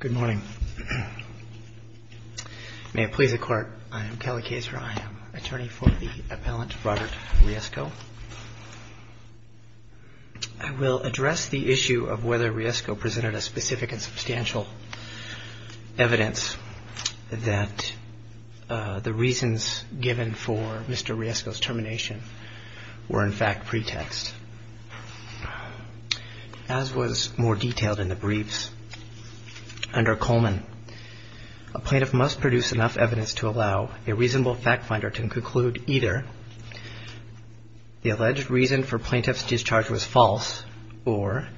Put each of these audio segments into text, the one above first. Good morning. May it please the Court, I am Kelly Kayser. I am attorney for the appellant Robert Riesgo. I will address the issue of whether Riesgo presented a specific and substantial evidence that the reasons given for Mr. Riesgo's termination were in fact pretext. As was more detailed in the briefs. Under Coleman, a plaintiff must produce enough evidence to allow a reasonable factfinder to conclude either the alleged reason for plaintiff's discharge was false or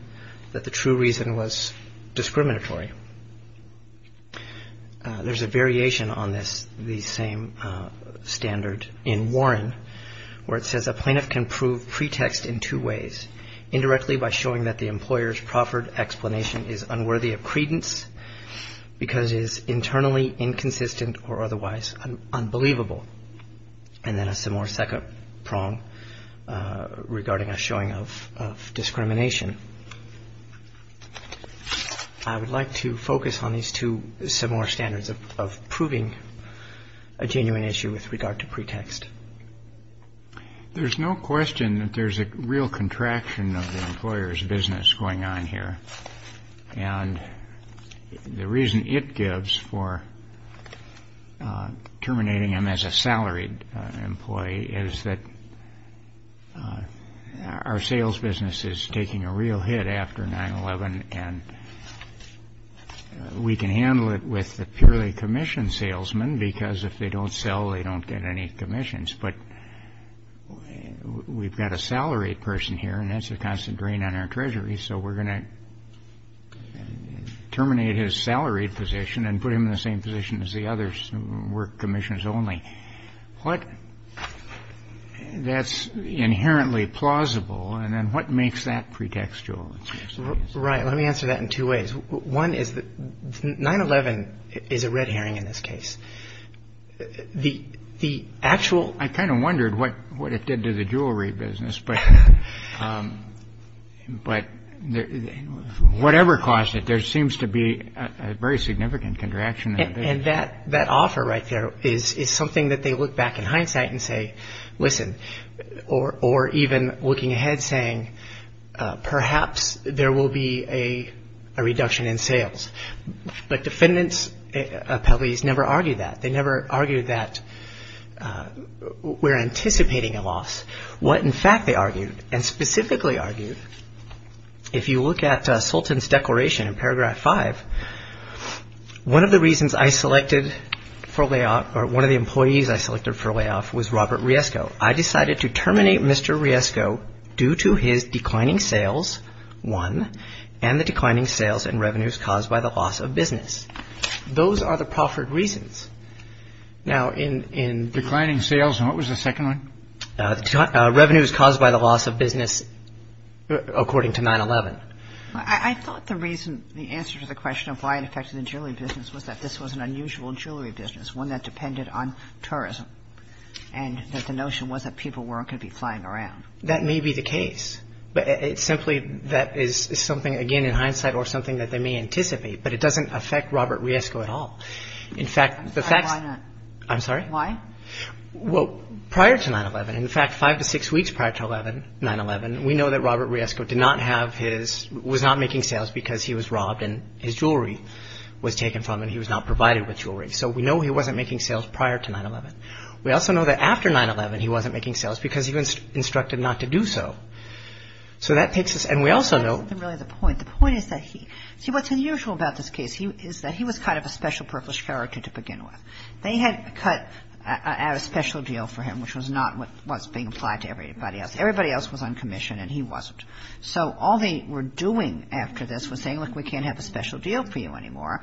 that the true reason was discriminatory. There is a variation on this, the same standard in Warren, where it says a plaintiff can prove pretext in two ways. Indirectly by showing that the employer's proffered explanation is unworthy of credence because it is internally inconsistent or otherwise unbelievable. And then a similar second prong regarding a showing of discrimination. I would like to focus on these two similar standards of proving a genuine issue with regard to pretext. There is no question that there is a real contraction of the employer's business going on here. And the reason it gives for terminating him as a salaried employee is that our sales business is taking a real hit after 9-11 and we can handle it with the purely commissioned salesman because if they don't sell, they don't get any commissions. But we've got a salaried person here and that's a constant drain on our treasury, so we're going to terminate his salaried position and put him in the same position as the others who work commissions only. That's inherently plausible. And then what makes that pretextual? Right. Let me answer that in two ways. One is that 9-11 is a red herring in this case. The the actual I kind of wondered what what it did to the jewelry business. But but whatever caused it, there seems to be a very significant contraction. And that that offer right there is is something that they look back in hindsight and say, listen, or or even looking ahead, saying perhaps there will be a reduction in sales. But defendants appellees never argued that. They never argued that we're anticipating a loss. What in fact they argued and specifically argued, if you look at Sultan's declaration in paragraph five, one of the reasons I selected for layoff or one of the employees I selected for layoff was Robert Riesco. I decided to lay off Robert Riesco due to his declining sales, one, and the declining sales and revenues caused by the loss of business. Those are the proffered reasons. Now, in in declining sales, what was the second one? Revenues caused by the loss of business, according to 9-11. I thought the reason the answer to the question of why it affected the jewelry business was that this was an unusual jewelry business, one that depended on tourism and that the notion was that people weren't going to be flying around. That may be the case, but it's simply that is something, again, in hindsight or something that they may anticipate, but it doesn't affect Robert Riesco at all. In fact, the fact I'm sorry. Why? Well, prior to 9-11, in fact, five to six weeks prior to 11 9-11, we know that Robert Riesco did not have his was not making sales because he was robbed and his jewelry was taken from and he was not provided with jewelry. So we know he wasn't making sales prior to 9-11. We also know that after 9-11, he wasn't making sales because he was instructed not to do so. So that takes us. And we also know the point. The point is that he see what's unusual about this case is that he was kind of a special purpose character to begin with. They had cut out a special deal for him, which was not what was being applied to everybody else. Everybody else was on commission and he wasn't. So all they were doing after this was saying, look, we can't have a special deal for you anymore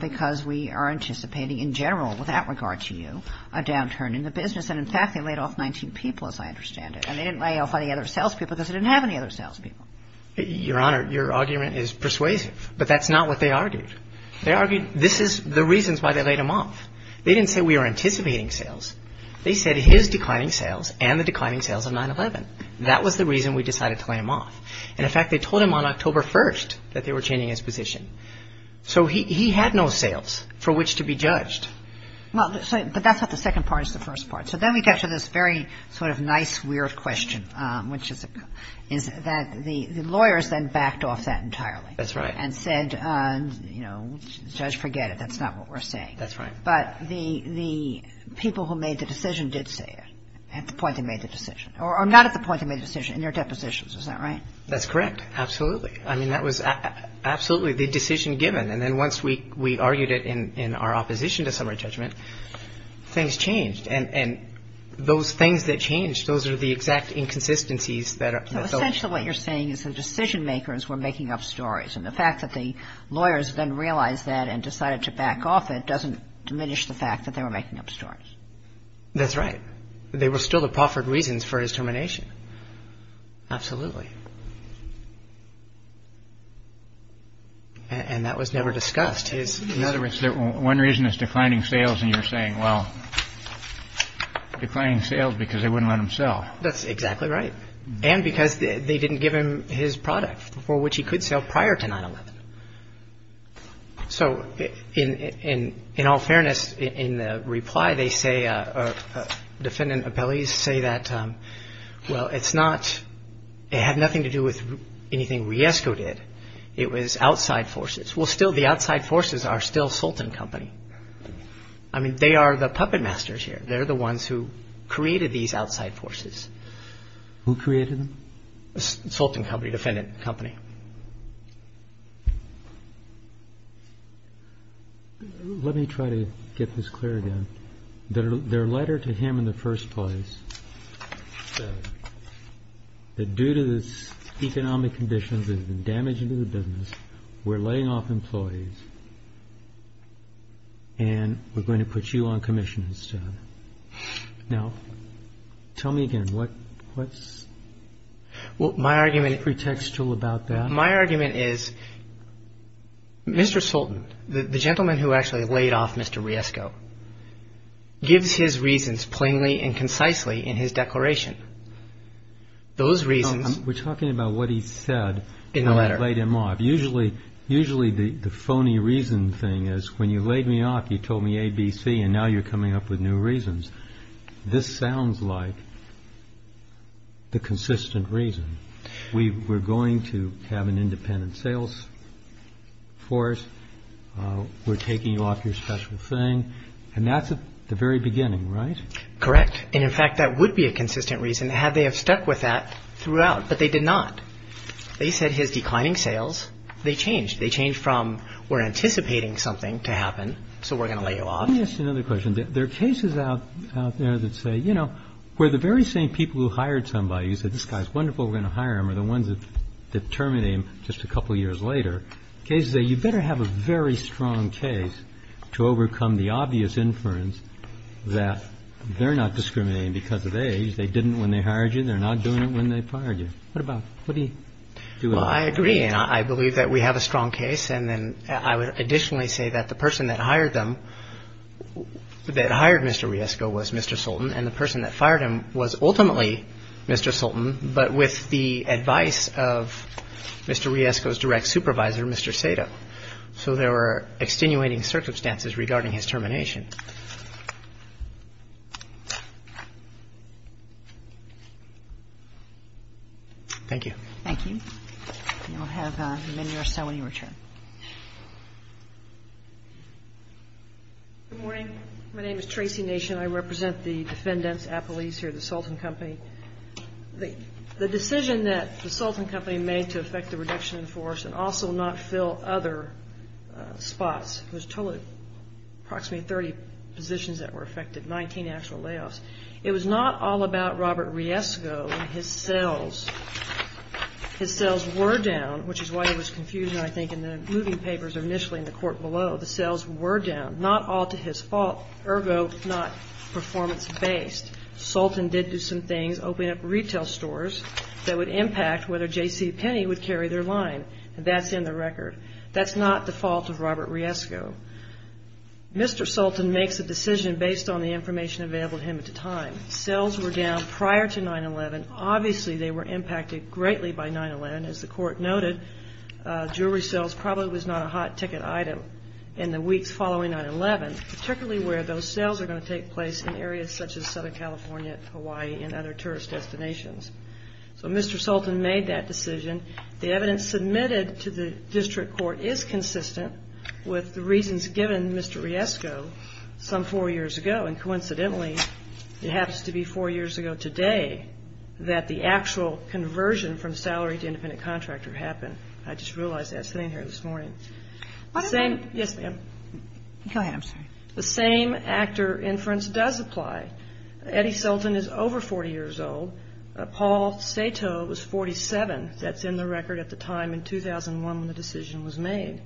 because we are anticipating in general, without regard to you, a downturn in the business. And in fact, they laid off 19 people, as I understand it. And they didn't lay off any other salespeople because they didn't have any other salespeople. Your Honor, your argument is persuasive, but that's not what they argued. They argued this is the reasons why they laid him off. They didn't say we are anticipating sales. They said his declining sales and the declining sales of 9-11. That was the reason we decided to lay him off. And in fact, they told him on October 1st that they were changing his position. So he had no sales for which to be judged. Well, but that's what the second part is, the first part. So then we get to this very sort of nice, weird question, which is that the lawyers then backed off that entirely. That's right. And said, you know, Judge, forget it. That's not what we're saying. That's right. But the people who made the decision did say it at the point they made the decision or not at the point they made the decision in their depositions. Is that right? That's correct. Absolutely. I mean, that was absolutely the decision given. And then once we we argued it in our opposition to summary judgment, things changed. And those things that changed, those are the exact inconsistencies that are essential. What you're saying is the decision makers were making up stories. And the fact that the lawyers then realized that and decided to back off, it doesn't diminish the fact that they were making up stories. That's right. They were still the proffered reasons for his termination. Absolutely. And that was never discussed is another one reason is declining sales. And you're saying, well, declining sales because they wouldn't let himself. That's exactly right. And because they didn't give him his product for which he could sell prior to 9-11. So in in all fairness, in reply, they say defendant appellees say that, well, it's not it had nothing to do with anything we escorted. It was outside forces. Well, still, the outside forces are still Sultan Company. I mean, they are the puppet masters here. They're the ones who created these outside forces who created the Sultan Company, defendant company. Let me try to get this clear again, their letter to him in the first place. That due to this economic conditions and damage to the business, we're laying off employees. And we're going to put you on commission. Now, tell me again, what what's my argument pretextual about my argument is Mr. Riesco gives his reasons plainly and concisely in his declaration. Those reasons, we're talking about what he said in the letter, laid him off. Usually, usually the phony reason thing is when you laid me off, you told me ABC and now you're coming up with new reasons. This sounds like. The consistent reason we were going to have an independent sales. Force, we're taking you off your special thing, and that's the very beginning, right? Correct. And in fact, that would be a consistent reason had they have stuck with that throughout. But they did not. They said his declining sales. They changed. They changed from we're anticipating something to happen. So we're going to lay you off. Another question. There are cases out there that say, you know, where the very same people who hired somebody said, this guy's wonderful. We're going to hire him or the ones that terminated him just a couple of years later. Is that you better have a very strong case to overcome the obvious inference that they're not discriminating because of age. They didn't when they hired you. They're not doing it when they fired you. What about what do you do? Well, I agree. And I believe that we have a strong case. And then I would additionally say that the person that hired them that hired Mr. Riesco was Mr. Sultan and the person that fired him was ultimately Mr. Sultan. But with the advice of Mr. Riesco's direct supervisor, Mr. Sato. So there were extenuating circumstances regarding his termination. Thank you. Thank you. And we'll have the men here so when you return. Good morning. My name is Tracy Nation. I represent the defendants, appellees here at the Sultan Company. The decision that the Sultan Company made to affect the reduction in force and also not fill other spots was totally approximately 30 positions that were affected, 19 actual layoffs. It was not all about Robert Riesco and his sales. His sales were down, which is why there was confusion, I think, in the moving papers initially in the court below. The sales were down, not all to his fault. Ergo, not performance based. Sultan did do some things, open up retail stores that would impact whether JCPenney would carry their line. That's in the record. That's not the fault of Robert Riesco. Mr. Sultan makes a decision based on the information available to him at the time. Sales were down prior to 9-11. Obviously, they were impacted greatly by 9-11. As the court noted, jewelry sales probably was not a hot ticket item in the weeks following 9-11, particularly where those sales are going to take place in areas such as Southern California, Hawaii, and other tourist destinations. So Mr. Sultan made that decision. The evidence submitted to the district court is consistent with the reasons given Mr. Riesco some four years ago. And coincidentally, it happens to be four years ago today that the actual conversion from salary to independent contractor happened. I just realized that sitting here this morning. Yes, ma'am. Go ahead, I'm sorry. The same actor inference does apply. Eddie Sultan is over 40 years old. Paul Sato was 47. That's in the record at the time in 2001 when the decision was made.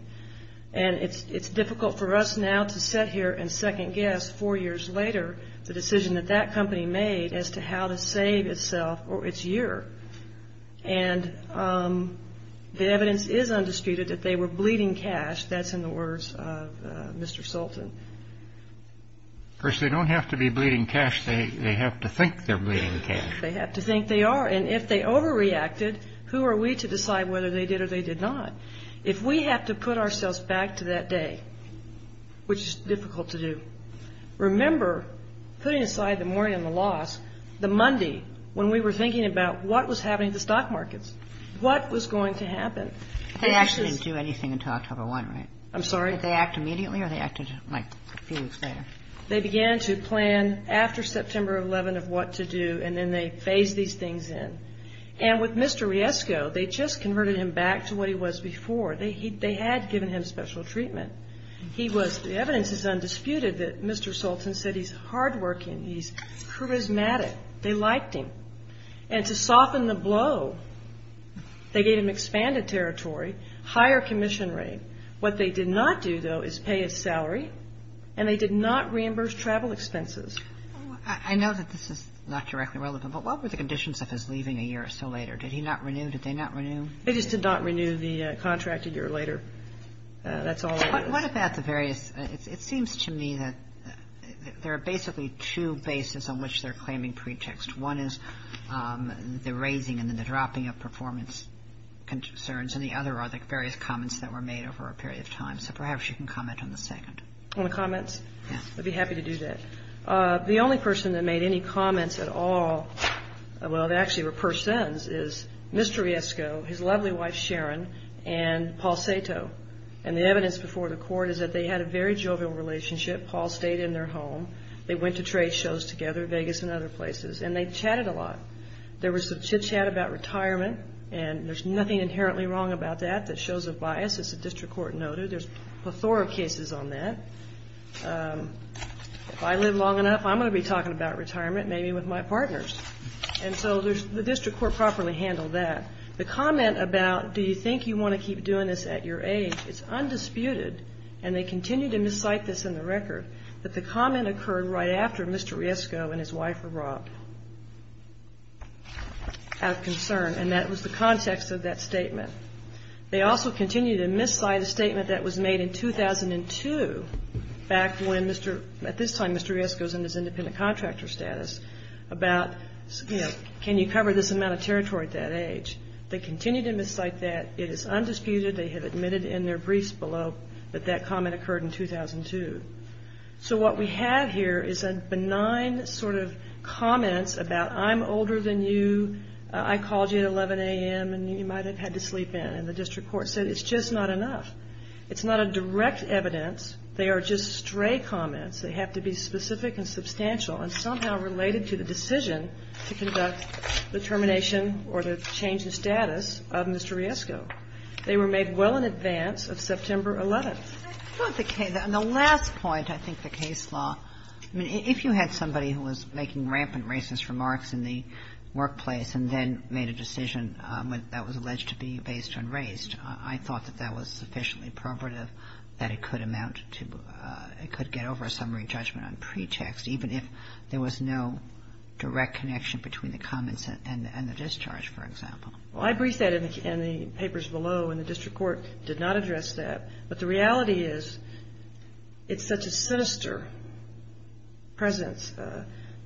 And it's difficult for us now to sit here and second guess four years later the decision that that company made as to how to save itself or its year. And the evidence is undisputed that they were bleeding cash. That's in the words of Mr. Sultan. Of course, they don't have to be bleeding cash. They have to think they're bleeding cash. They have to think they are. And if they overreacted, who are we to decide whether they did or they did not? If we have to put ourselves back to that day, which is difficult to do. Remember, putting aside the mourning and the loss, the Monday when we were thinking about what was happening to stock markets, what was going to happen? They actually didn't do anything until October 1, right? I'm sorry? Did they act immediately or they acted like a few weeks later? They began to plan after September 11 of what to do, and then they phased these things in. And with Mr. Riesco, they just converted him back to what he was before. They had given him special treatment. He was, the evidence is undisputed that Mr. Sultan said he's hardworking, he's charismatic. They liked him. And to soften the blow, they gave him expanded territory, higher commission rate. What they did not do, though, is pay his salary, and they did not reimburse travel expenses. I know that this is not directly relevant, but what were the conditions of his leaving a year or so later? Did he not renew? Did they not renew? They just did not renew the contract a year later. That's all. What about the various, it seems to me that there are basically two bases on which they're claiming pretext. One is the raising and then the dropping of performance concerns. And the other are the various comments that were made over a period of time. So perhaps you can comment on the second. On the comments? Yes. I'd be happy to do that. The only person that made any comments at all, well, they actually were persons, is Mr. Riesco, his lovely wife, Sharon, and Paul Sato. And the evidence before the court is that they had a very jovial relationship. Paul stayed in their home. They went to trade shows together, Vegas and other places. And they chatted a lot. There was some chit-chat about retirement, and there's nothing inherently wrong about that that shows a bias, as the district court noted. There's plethora of cases on that. If I live long enough, I'm going to be talking about retirement, maybe with my partners. And so the district court properly handled that. The comment about, do you think you want to keep doing this at your age, it's undisputed, and they continue to miscite this in the record, that the comment occurred right after Mr. Riesco and his wife were brought out of concern. And that was the context of that statement. They also continue to miscite a statement that was made in 2002, back when, at this time, Mr. Riesco was in his independent contractor status, about, you know, can you cover this amount of territory at that age? They continue to miscite that. It is undisputed. They have admitted in their briefs below that that comment occurred in 2002. So what we have here is a benign sort of comments about, I'm older than you, I called you at 11 a.m., and you might have had to sleep in. And the district court said, it's just not enough. It's not a direct evidence. They are just stray comments. They have to be specific and substantial and somehow related to the decision to conduct the termination or the change in status of Mr. Riesco. They were made well in advance of September 11th. Kagan. And the last point, I think the case law, I mean, if you had somebody who was making rampant racist remarks in the workplace and then made a decision that was alleged to be based on race, I thought that that was sufficiently perverted that it could amount to – it could get over a summary judgment on pretext, even if there was no direct connection between the comments and the discharge, for example. Well, I briefed that in the papers below, and the district court did not address that. But the reality is, it's such a sinister presence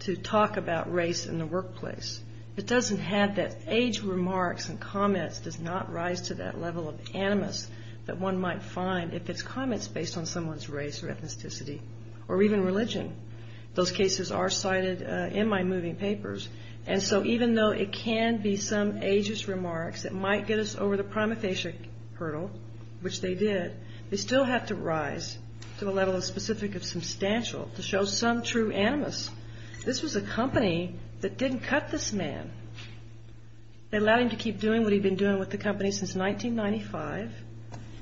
to talk about race in the workplace. It doesn't have that – age remarks and comments does not rise to that level of animus that one might find if it's comments based on someone's race or ethnicity or even religion. Those cases are cited in my moving papers. And so even though it can be some ageist remarks that might get us over the prima facie hurdle, which they did, they still have to rise to the level of specific and substantial to show some true animus. This was a company that didn't cut this man. They allowed him to keep doing what he'd been doing with the company since 1995,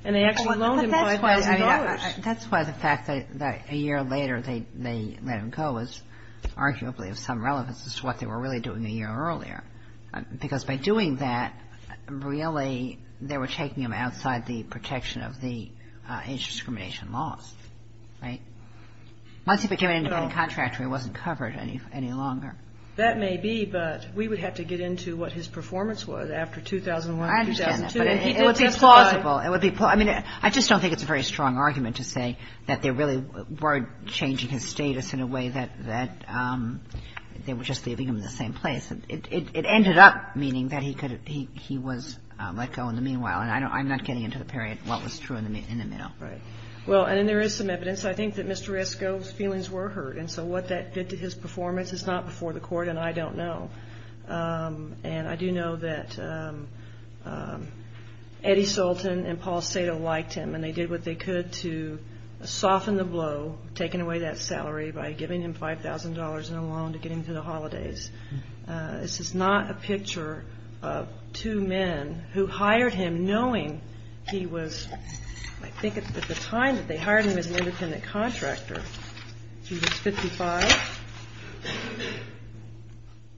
and they actually loaned him $5,000. That's why the fact that a year later they let him go is arguably of some relevance as to what they were really doing a year earlier, because by doing that, really, they were taking him outside the protection of the age discrimination laws, right? Once he became an independent contractor, he wasn't covered any longer. That may be, but we would have to get into what his performance was after 2001 and 2002. I understand that, but it would be plausible. I mean, I just don't think it's a very strong argument to say that they really were changing his status in a way that they were just leaving him in the same place. It ended up meaning that he was let go in the meanwhile, and I'm not getting into the period what was true in the middle. Right. Well, and there is some evidence. I think that Mr. Esco's feelings were hurt, and so what that did to his performance is not before the court, and I don't know. And I do know that Eddie Sultan and Paul Sato liked him, and they did what they could to soften the blow, taking away that salary by giving him $5,000 in a loan to get him to the holidays. This is not a picture of two men who hired him knowing he was, I think at the time that they hired him as an independent contractor, he was 55,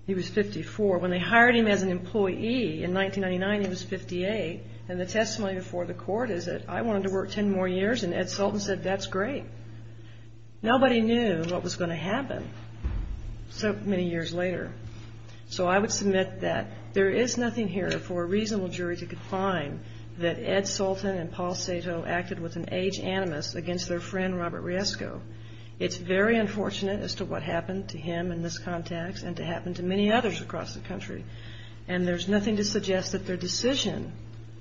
he was 54. When they hired him as an employee in 1999, he was 58, and the testimony before the court is that I wanted to work 10 more years, and Ed Sultan said, that's great. Nobody knew what was going to happen so many years later. So I would submit that there is nothing here for a reasonable jury to confine that Ed Sultan and Paul Sato acted with an age animus against their friend, Robert Riesco. It's very unfortunate as to what happened to him in this context, and to happen to many others across the country. And there's nothing to suggest that their decision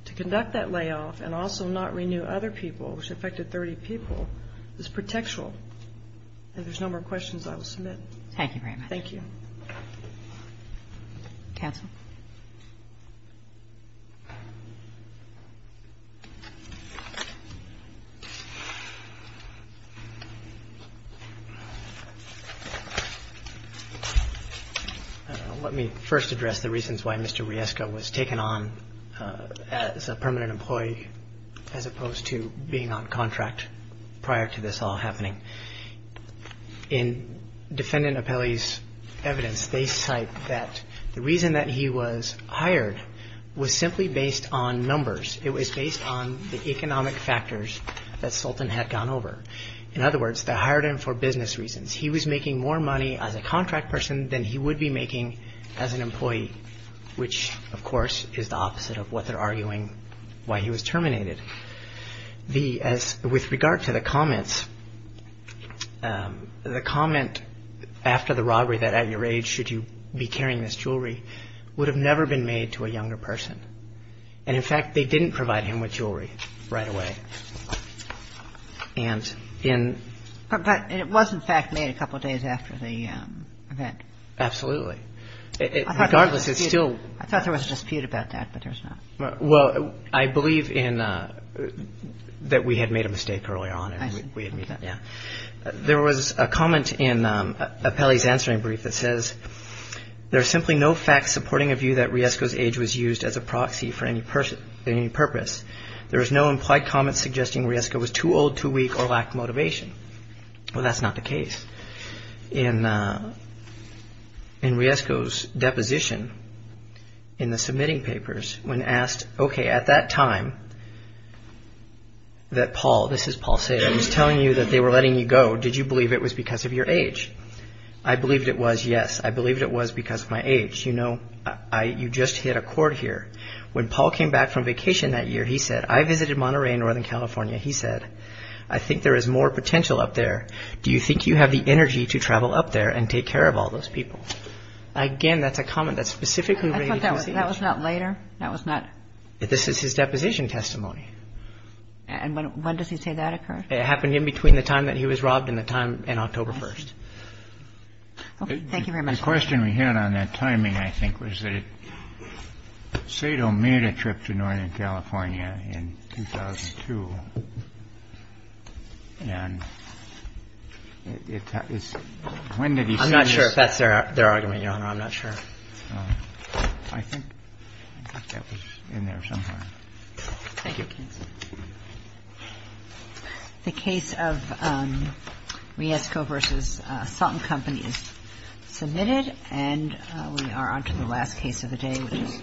to conduct that layoff and also not renew other people, which affected 30 people, is pretextual. If there's no more questions, I will submit. Thank you very much. Thank you. Counsel. Let me first address the reasons why Mr. Riesco was taken on as a permanent employee as opposed to being on contract prior to this all happening. In Defendant Apelli's evidence, they cite that the reason that he was hired was simply based on numbers. It was based on the economic factors that Sultan had gone over. In other words, they hired him for business reasons. He was making more money as a contract person than he would be making as an employee, which of course is the opposite of what they're arguing why he was terminated. With regard to the comments, the comment after the robbery that at your age should you be carrying this jewelry would have never been made to a younger person. And in fact, they didn't provide him with jewelry right away. And in... But it was in fact made a couple of days after the event. Absolutely. Regardless, it's still... I thought there was a dispute about that, but there's not. Well, I believe in that we had made a mistake earlier on and we admit that, yeah. There was a comment in Apelli's answering brief that says, there are simply no facts supporting a view that Riesco's age was used as a proxy for any purpose. There is no implied comment suggesting Riesco was too old, too weak, or lacked motivation. Well, that's not the case. In Riesco's deposition in the submitting papers, when asked, okay, at that time that Paul, this is Paul saying, I was telling you that they were letting you go. Did you believe it was because of your age? I believed it was, yes. I believed it was because of my age. You know, you just hit a chord here. When Paul came back from vacation that year, he said, I visited Monterey in Northern California. He said, I think there is more potential up there. Do you think you have the energy to travel up there and take care of all those people? Again, that's a comment that's specifically related to his age. I thought that was not later? That was not? This is his deposition testimony. And when does he say that occurred? It happened in between the time that he was robbed and the time in October 1st. Okay. Thank you very much. The question we had on that timing, I think, was that Sato made a trip to Northern California in 2002. And when did he say this? I'm not sure if that's their argument, Your Honor. I'm not sure. I think that was in there somewhere. Thank you. The case of Riesco v. Sauten Company is submitted. And we are on to the last case of the day, which is Price v. Sauten.